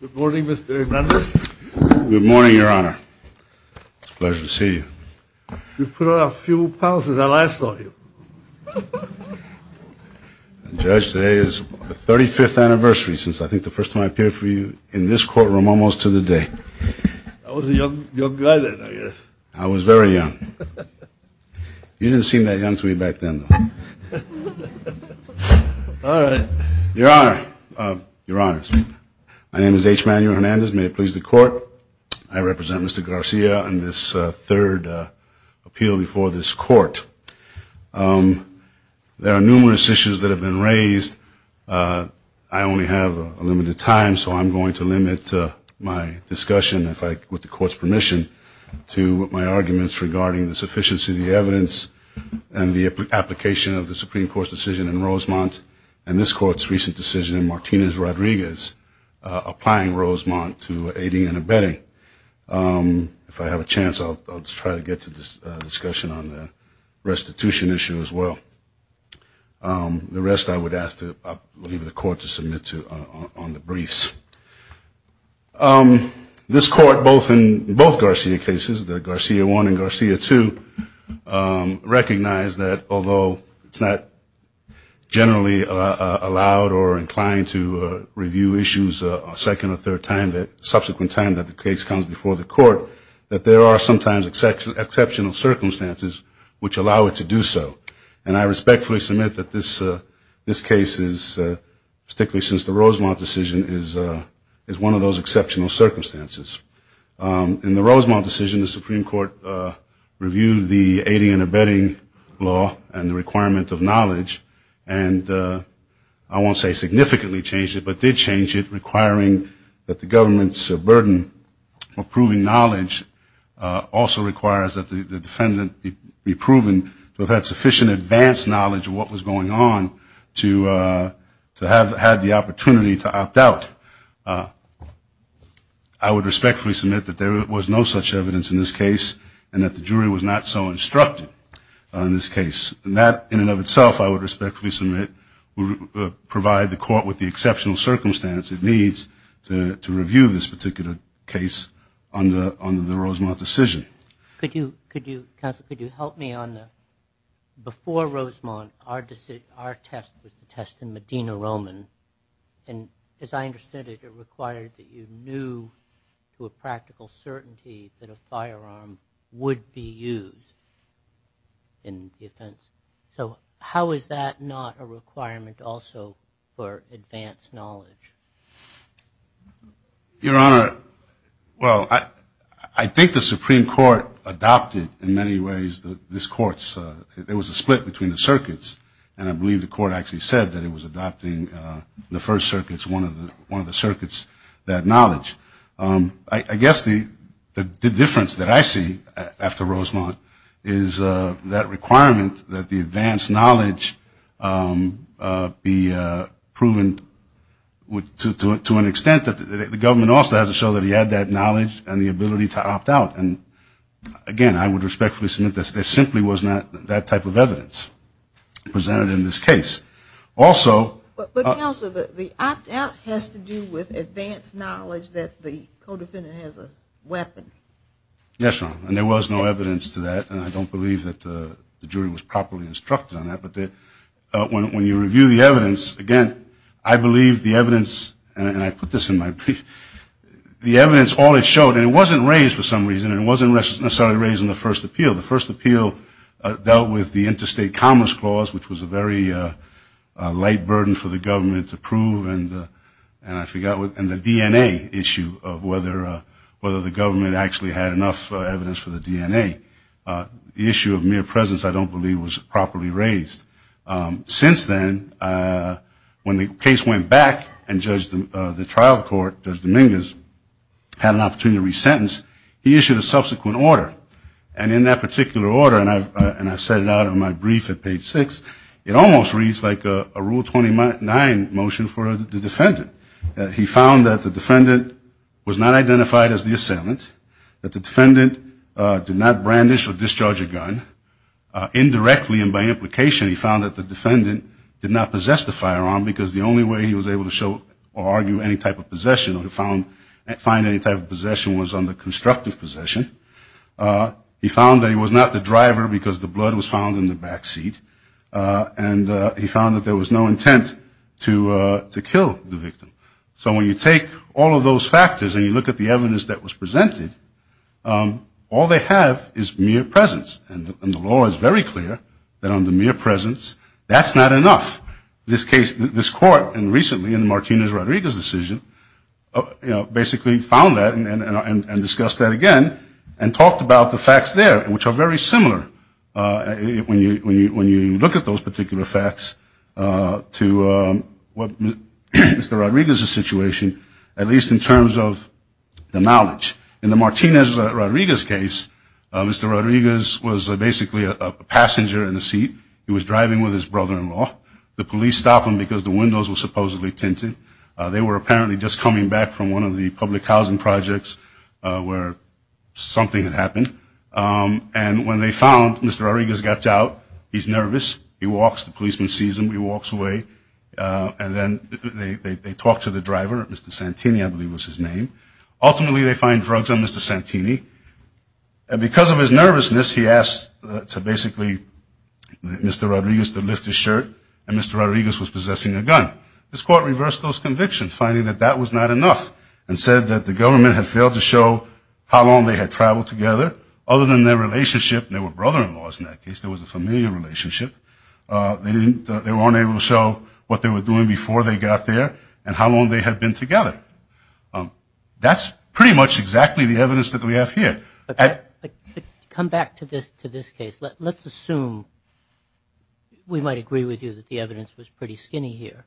Good morning, Mr. Hernandez. Good morning, Your Honor. It's a pleasure to see you. You've put on a few pounds since I last saw you. Judge, today is the 35th anniversary since I think the first time I appeared for you in this courtroom almost to the day. I was a young guy then, I guess. I was very young. You didn't seem that young to me back then, though. All right. Your Honor, Your Honors, my name is H. Manuel Hernandez. May it please the Court, I represent Mr. Garcia in this third appeal before this Court. There are numerous issues that have been raised. I only have a limited time, so I'm going to limit my discussion with the Court's permission to my arguments regarding the sufficiency of the evidence and the application of the Supreme Court's decision in Rosemont and this Court's recent decision in Martinez-Rodriguez applying Rosemont to aiding and abetting. If I have a chance, I'll try to get to this discussion on the restitution issue as well. The rest I would ask to leave the Court to submit to on the briefs. This Court, both in both Garcia cases, the Garcia I and Garcia II, recognized that although it's not generally allowed or inclined to review issues a second or third time, the subsequent time that the case comes before the Court, that there are sometimes exceptional circumstances which allow it to do so. And I respectfully submit that this case is, particularly since the Rosemont decision, is one of those exceptional circumstances. In the Rosemont decision, the Supreme Court reviewed the aiding and abetting law and the requirement of knowledge and I won't say significantly changed it, but did change it, requiring that the government's burden of proving knowledge also requires that the defendant be proven to have had sufficient advanced knowledge of what was going on to have had the opportunity to opt out. I would respectfully submit that there was no such evidence in this case and that the jury was not so instructed on this case. And that, in and of itself, I would respectfully submit would provide the Court with the exceptional circumstance it needs to review this particular case under the Rosemont decision. Could you, counsel, could you help me on the, before Rosemont, our test was the test in Medina Roman and as I understood it, it required that you knew to a practical certainty that a firearm would be used in the offense. So how is that not a requirement also for advanced knowledge? Your Honor, well, I think the Supreme Court adopted in many ways this Court's, there was a split between the circuits and I believe the Court actually said that it was adopting the first circuits, one of the circuits, that knowledge. I guess the difference that I see after Rosemont is that requirement that the advanced knowledge be proven, to an extent that the government also has to show that he had that knowledge and the ability to opt out. Again, I would respectfully submit that there simply was not that type of evidence presented in this case. Also, But, counsel, the opt out has to do with advanced knowledge that the co-defendant has a weapon. Yes, Your Honor, and there was no evidence to that and I don't believe that the jury was properly instructed on that. But when you review the evidence, again, I believe the evidence, and I put this in my brief, the evidence, all it showed, and it wasn't raised for some reason, it wasn't necessarily raised in the first appeal. The first appeal dealt with the interstate commerce clause, which was a very light burden for the government to prove and the DNA issue of whether the government actually had enough evidence for the DNA. The issue of mere presence, I don't believe, was properly raised. Since then, when the case went back and the trial court, Judge Dominguez, had an opportunity to resentence, he issued a subsequent order, and in that particular order, and I set it out in my brief at page six, it almost reads like a Rule 29 motion for the defendant. He found that the defendant was not identified as the assailant, that the defendant did not brandish or discharge a gun. Indirectly and by implication, he found that the defendant did not possess the firearm because the only way he was able to show or argue any type of possession or find any type of possession was under constructive possession. He found that he was not the driver because the blood was found in the backseat, and he found that there was no intent to kill the victim. So when you take all of those factors and you look at the evidence that was presented, all they have is mere presence, and the law is very clear that under mere presence, that's not enough. This case, this court, and recently in Martinez-Rodriguez's decision, basically found that and discussed that again and talked about the facts there, which are very similar when you look at those particular facts, to Mr. Rodriguez's situation, at least in terms of the knowledge. In the Martinez-Rodriguez case, Mr. Rodriguez was basically a passenger in a seat. He was driving with his brother-in-law. The police stopped him because the windows were supposedly tinted. They were apparently just coming back from one of the public housing projects where something had happened, and when they found Mr. Rodriguez got out, he's nervous. He walks. The policeman sees him. He walks away, and then they talk to the driver, Mr. Santini, I believe was his name. Ultimately, they find drugs on Mr. Santini, and because of his nervousness, he asked basically Mr. Rodriguez to lift his shirt, and Mr. Rodriguez was possessing a gun. This court reversed those convictions, finding that that was not enough, and said that the government had failed to show how long they had traveled together, other than their relationship, and they were brother-in-laws in that case. There was a familiar relationship. They weren't able to show what they were doing before they got there and how long they had been together. That's pretty much exactly the evidence that we have here. Come back to this case. Let's assume we might agree with you that the evidence was pretty skinny here.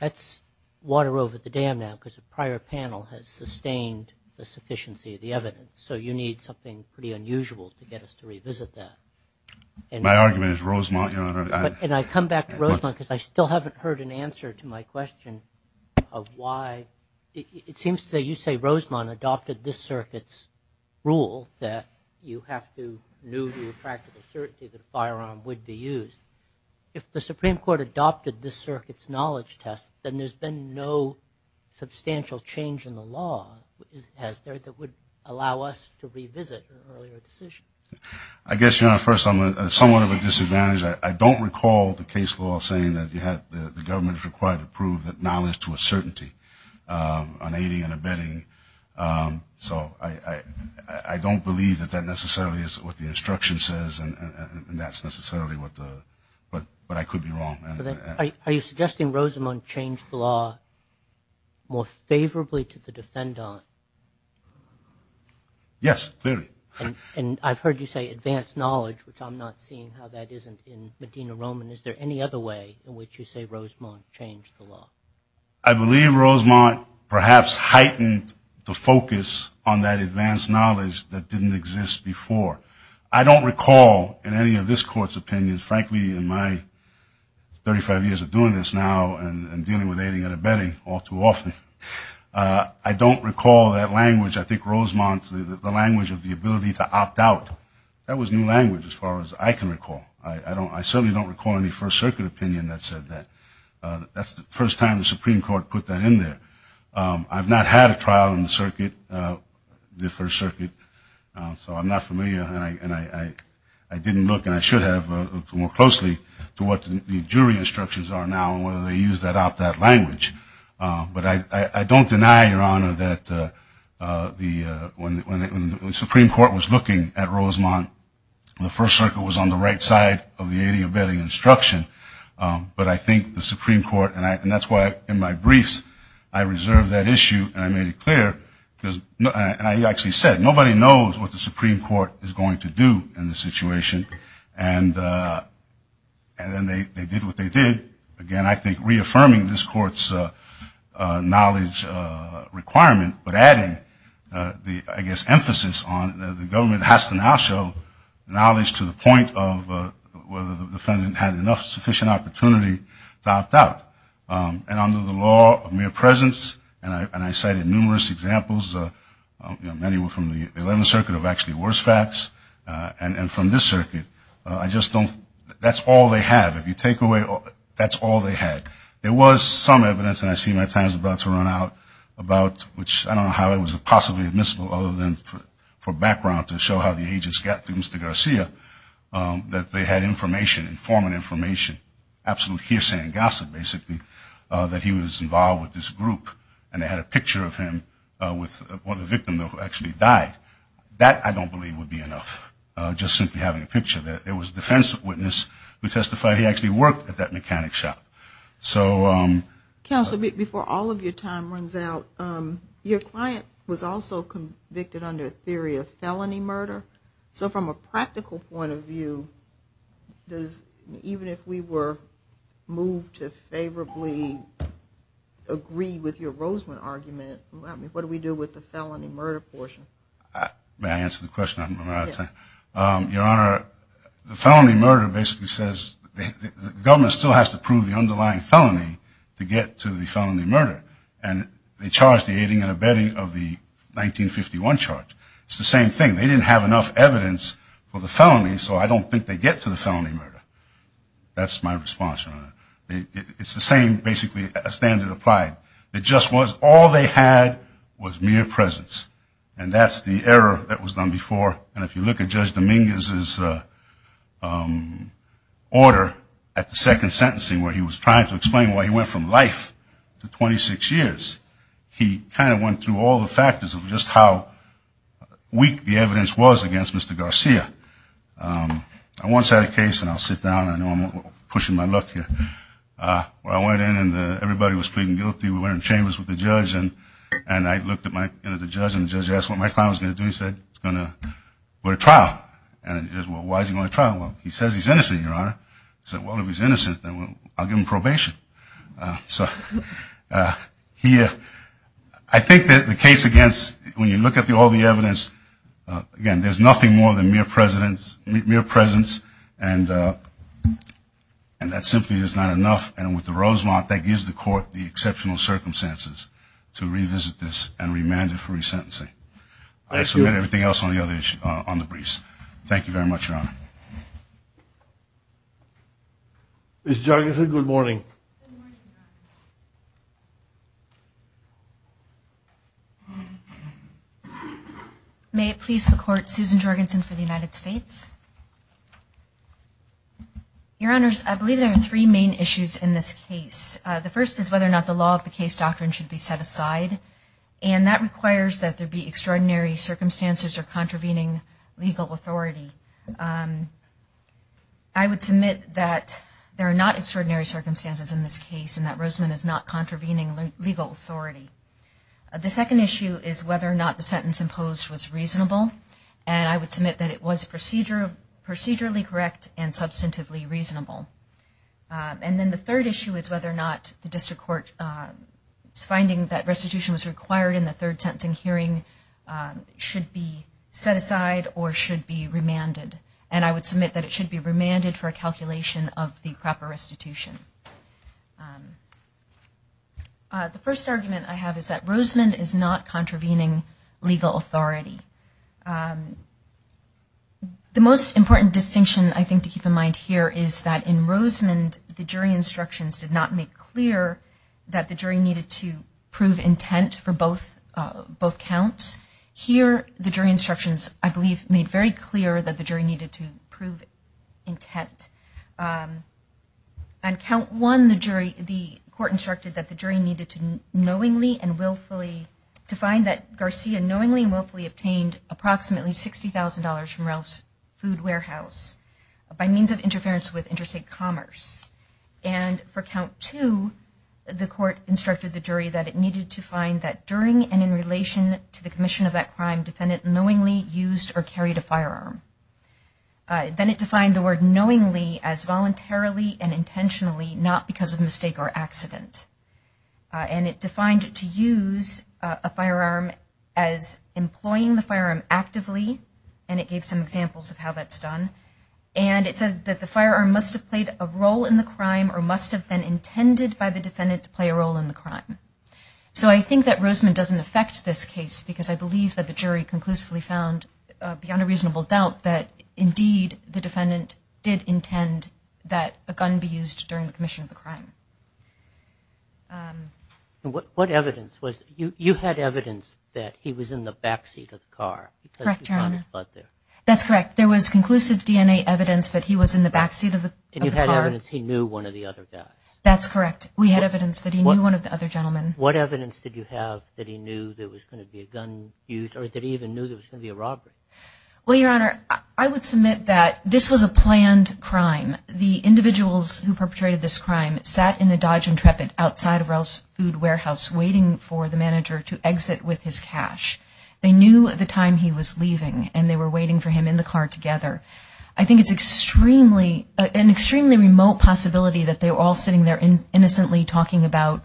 That's water over the dam now because the prior panel has sustained the sufficiency of the evidence, so you need something pretty unusual to get us to revisit that. My argument is Rosemont. And I come back to Rosemont because I still haven't heard an answer to my question of why. It seems to say you say Rosemont adopted this circuit's rule that you have to knew the practical certainty that a firearm would be used. If the Supreme Court adopted this circuit's knowledge test, then there's been no substantial change in the law, has there, that would allow us to revisit an earlier decision? I guess, first, I'm somewhat of a disadvantage. I don't recall the case law saying that the government is required to prove that knowledge to a certainty, an aiding and abetting, so I don't believe that that necessarily is what the instruction says and that's necessarily what I could be wrong. Are you suggesting Rosemont changed the law more favorably to the defendant? Yes, clearly. And I've heard you say advanced knowledge, which I'm not seeing how that isn't in Medina Roman. Is there any other way in which you say Rosemont changed the law? I believe Rosemont perhaps heightened the focus on that advanced knowledge that didn't exist before. I don't recall in any of this Court's opinions, frankly, in my 35 years of doing this now and dealing with aiding and abetting all too often, I don't recall that language. I think Rosemont, the language of the ability to opt out, that was new language as far as I can recall. I certainly don't recall any First Circuit opinion that said that. That's the first time the Supreme Court put that in there. I've not had a trial in the circuit, the First Circuit, so I'm not familiar and I didn't look and I should have looked more closely to what the jury instructions are now and whether they used that opt-out language. But I don't deny, Your Honor, that when the Supreme Court was looking at Rosemont, the First Circuit was on the right side of the aiding and abetting instruction. But I think the Supreme Court, and that's why in my briefs I reserved that issue and I made it clear, and I actually said nobody knows what the Supreme Court is going to do in this situation. And then they did what they did. Again, I think reaffirming this Court's knowledge requirement, but adding the, I guess, emphasis on the government has to now show knowledge to the point of whether the defendant had enough sufficient opportunity to opt out. And under the law of mere presence, and I cited numerous examples, many were from the Eleventh Circuit of actually worse facts. And from this circuit, I just don't, that's all they have. If you take away, that's all they had. There was some evidence, and I see my time is about to run out, about which, I don't know how it was possibly admissible other than for background to show how the agents got to Mr. Garcia, that they had information, informant information, absolute hearsay and gossip, basically, that he was involved with this group. And they had a picture of him with one of the victims who actually died. That, I don't believe, would be enough. Just simply having a picture. There was a defense witness who testified he actually worked at that mechanic shop. Counsel, before all of your time runs out, your client was also convicted under a theory of felony murder. So from a practical point of view, even if we were moved to favorably agree with your Roseman argument, what do we do with the felony murder portion? May I answer the question? Your Honor, the felony murder basically says the government still has to prove the underlying felony to get to the felony murder. And they charge the aiding and abetting of the 1951 charge. It's the same thing. They didn't have enough evidence for the felony, so I don't think they get to the felony murder. That's my response, Your Honor. It's the same, basically, standard applied. It just was all they had was mere presence. And that's the error that was done before. And if you look at Judge Dominguez's order at the second sentencing where he was trying to explain why he went from life to 26 years, he kind of went through all the factors of just how weak the evidence was against Mr. Garcia. I once had a case, and I'll sit down. I know I'm pushing my luck here, where I went in and everybody was pleading guilty. We went in chambers with the judge, and I looked at the judge, and the judge asked what my client was going to do. He said he was going to go to trial. And I said, well, why is he going to trial? Well, he says he's innocent, Your Honor. I said, well, if he's innocent, then I'll give him probation. So here, I think that the case against, when you look at all the evidence, again, there's nothing more than mere presence, and that simply is not enough. And with the Rosemont, that gives the court the exceptional circumstances to revisit this and remand it for resentencing. I submit everything else on the briefs. Thank you very much, Your Honor. Ms. Jorgensen, good morning. Good morning, Your Honor. May it please the Court, Susan Jorgensen for the United States. Your Honors, I believe there are three main issues in this case. The first is whether or not the law of the case doctrine should be set aside, and that requires that there be extraordinary circumstances or contravening legal authority. I would submit that there are not extraordinary circumstances in this case and that Rosemont is not contravening legal authority. The second issue is whether or not the sentence imposed was reasonable, and I would submit that it was procedurally correct and substantively reasonable. And then the third issue is whether or not the district court's finding that restitution was required in the third sentencing hearing should be set aside or should be remanded. And I would submit that it should be remanded for a calculation of the proper restitution. The first argument I have is that Rosemont is not contravening legal authority. The most important distinction I think to keep in mind here is that in Rosemont, the jury instructions did not make clear that the jury needed to prove intent for both counts. Here, the jury instructions, I believe, made very clear that the jury needed to prove intent. On count one, the court instructed that the jury needed to knowingly and willfully to find that Garcia knowingly and willfully obtained approximately $60,000 from Ralph's Food Warehouse by means of interference with interstate commerce. And for count two, the court instructed the jury that it needed to find that during and in relation to the commission of that crime, defendant knowingly used or carried a firearm. Then it defined the word knowingly as voluntarily and intentionally, not because of mistake or accident. And it defined to use a firearm as employing the firearm actively, and it gave some examples of how that's done. And it says that the firearm must have played a role in the crime or must have been intended by the defendant to play a role in the crime. So I think that Rosemont doesn't affect this case because I believe that the jury conclusively found, beyond a reasonable doubt, that indeed the defendant did intend that a gun be used during the commission of the crime. What evidence was, you had evidence that he was in the backseat of the car. Correct, Your Honor. Because you found his butt there. That's correct. There was conclusive DNA evidence that he was in the backseat of the car. And you had evidence he knew one of the other guys. That's correct. We had evidence that he knew one of the other gentlemen. What evidence did you have that he knew there was going to be a gun used or that he even knew there was going to be a robbery? Well, Your Honor, I would submit that this was a planned crime. The individuals who perpetrated this crime sat in a Dodge Intrepid outside of Ralph's Food Warehouse waiting for the manager to exit with his cash. They knew the time he was leaving, and they were waiting for him in the car together. I think it's an extremely remote possibility that they were all sitting there innocently talking about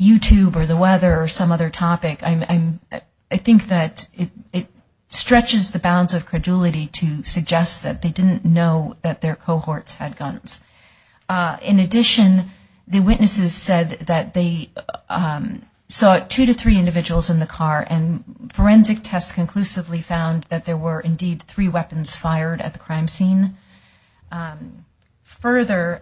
YouTube or the weather or some other topic. I think that it stretches the bounds of credulity to suggest that they didn't know that their cohorts had guns. In addition, the witnesses said that they saw two to three individuals in the car, and forensic tests conclusively found that there were indeed three weapons fired at the crime scene. Further,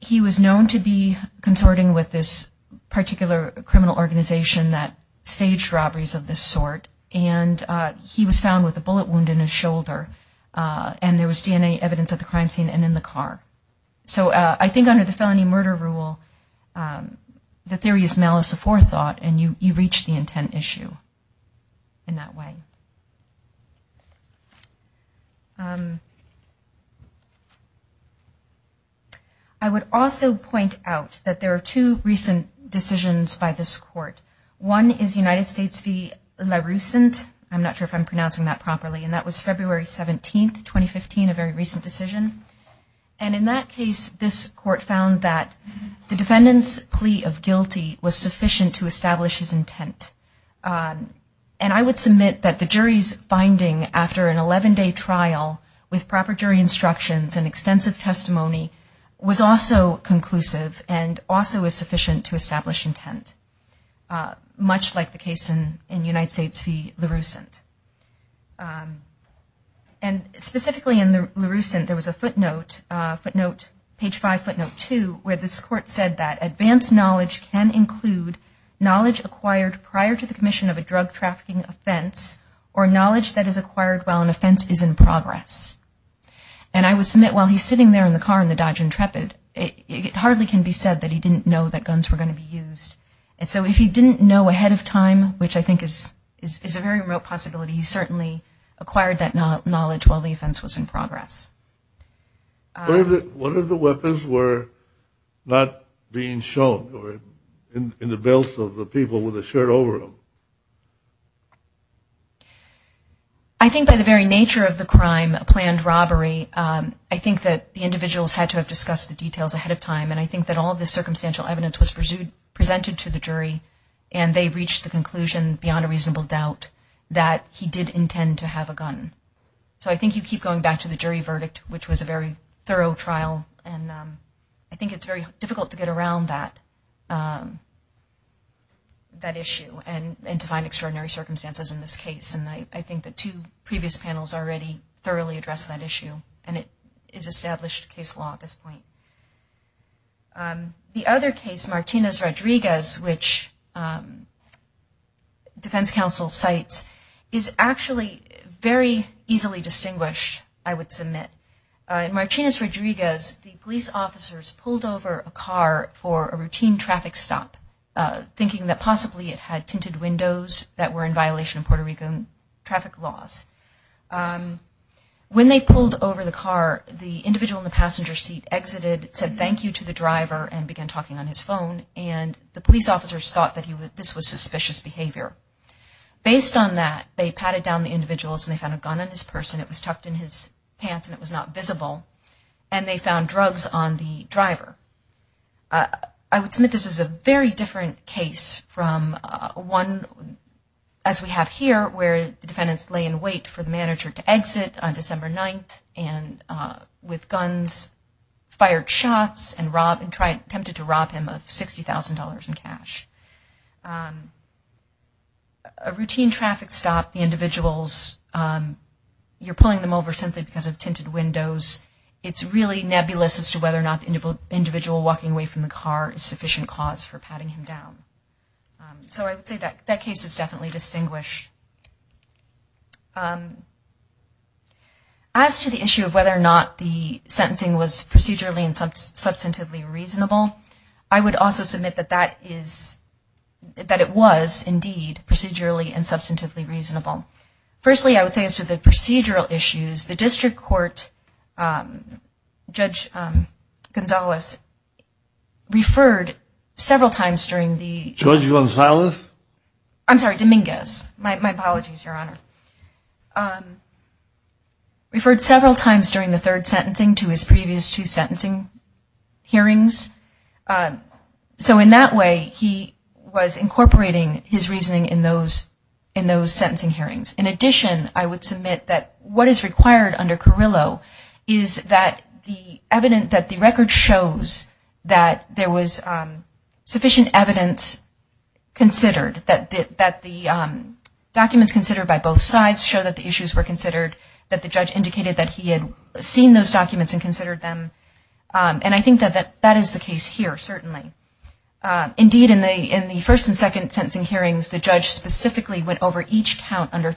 he was known to be consorting with this particular criminal organization that staged robberies of this sort, and he was found with a bullet wound in his shoulder, and there was DNA evidence at the crime scene and in the car. So I think under the felony murder rule, the theory is malice aforethought, and you reach the intent issue in that way. I would also point out that there are two recent decisions by this court. One is United States v. La Russente. I'm not sure if I'm pronouncing that properly, and that was February 17, 2015, a very recent decision. And in that case, this court found that the defendant's plea of guilty was sufficient to establish his intent. And I would submit that the jury's finding after an 11-day trial with proper jury instructions and extensive testimony was also conclusive and also was sufficient to establish intent, much like the case in United States v. La Russente. And specifically in La Russente, there was a footnote, page 5, footnote 2, where this court said that advanced knowledge can include knowledge acquired prior to the commission of a drug trafficking offense or knowledge that is acquired while an offense is in progress. And I would submit while he's sitting there in the car in the Dodge Intrepid, it hardly can be said that he didn't know that guns were going to be used. And so if he didn't know ahead of time, which I think is a very remote possibility, he certainly acquired that knowledge while the offense was in progress. What if the weapons were not being shown or in the belts of the people with the shirt over them? I think by the very nature of the crime, a planned robbery, I think that the individuals had to have discussed the details ahead of time, and I think that all of the circumstantial evidence was presented to the jury and they reached the conclusion beyond a reasonable doubt that he did intend to have a gun. So I think you keep going back to the jury verdict, which was a very thorough trial, and I think it's very difficult to get around that issue. And to find extraordinary circumstances in this case, and I think the two previous panels already thoroughly addressed that issue, and it is established case law at this point. The other case, Martinez-Rodriguez, which defense counsel cites, is actually very easily distinguished, I would submit. In Martinez-Rodriguez, the police officers pulled over a car for a routine traffic stop, thinking that possibly it had tinted windows that were in violation of Puerto Rican traffic laws. When they pulled over the car, the individual in the passenger seat exited, said thank you to the driver, and began talking on his phone, and the police officers thought that this was suspicious behavior. Based on that, they patted down the individuals and they found a gun on this person, it was tucked in his pants and it was not visible, and they found drugs on the driver. I would submit this is a very different case from one as we have here, where the defendants lay in wait for the manager to exit on December 9th, and with guns, fired shots, and attempted to rob him of $60,000 in cash. A routine traffic stop, the individuals, you're pulling them over simply because of tinted windows, it's really nebulous as to whether or not the individual walking away from the car is sufficient cause for patting him down. So I would say that case is definitely distinguished. As to the issue of whether or not the sentencing was procedurally and substantively reasonable, I would also submit that it was indeed procedurally and substantively reasonable. Firstly, I would say as to the procedural issues, the district court, Judge Gonzales, referred several times during the... Judge Gonzales? I'm sorry, Dominguez. My apologies, Your Honor. Referred several times during the third sentencing to his previous two sentencing hearings. So in that way, he was incorporating his reasoning in those sentencing hearings. In addition, I would submit that what is required under Carrillo is that the record shows that there was sufficient evidence considered, that the documents considered by both sides show that the issues were considered, that the judge indicated that he had seen those documents and considered them. And I think that that is the case here, certainly. Indeed, in the first and second sentencing hearings, the judge specifically went over each factor under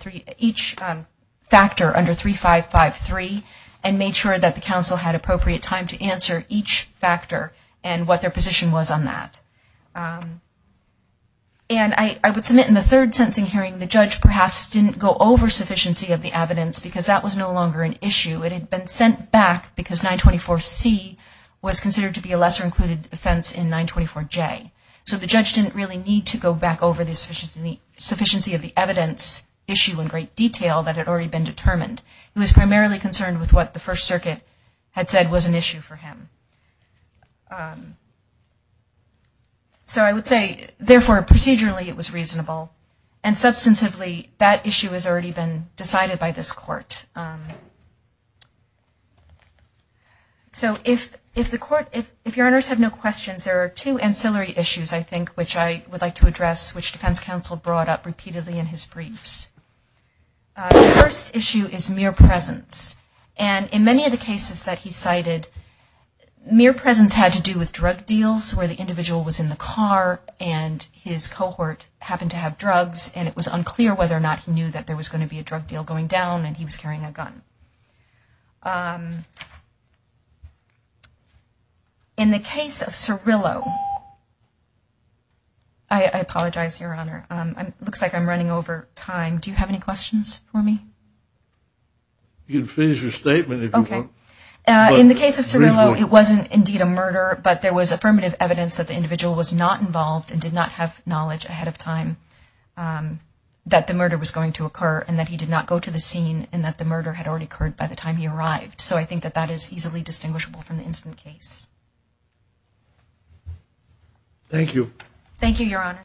3553 and made sure that the counsel had appropriate time to answer each factor and what their position was on that. And I would submit in the third sentencing hearing, the judge perhaps didn't go over sufficiency of the evidence because that was no longer an issue. It had been sent back because 924C was considered to be a lesser included offense in 924J. So the judge didn't really need to go back over the sufficiency of the evidence issue in great detail that had already been determined. He was primarily concerned with what the First Circuit had said was an issue for him. So I would say, therefore, procedurally it was reasonable, and substantively that issue has already been decided by this court. So if the court, if your honors have no questions, there are two ancillary issues I think which I would like to address, which defense counsel brought up repeatedly in his briefs. The first issue is mere presence. And in many of the cases that he cited, mere presence had to do with drug deals where the individual was in the car and his cohort happened to have drugs, and it was unclear whether or not he knew that there was going to be a drug deal going down and he was carrying a gun. In the case of Cirillo, I apologize, Your Honor. It looks like I'm running over time. Do you have any questions for me? You can finish your statement if you want. In the case of Cirillo, it wasn't indeed a murder, but there was affirmative evidence that the individual was not involved and did not have knowledge ahead of time that the murder was going to occur and that he did not go to the scene and that the murder had already occurred by the time he arrived. So I think that that is easily distinguishable from the incident case. Thank you. Thank you, Your Honor.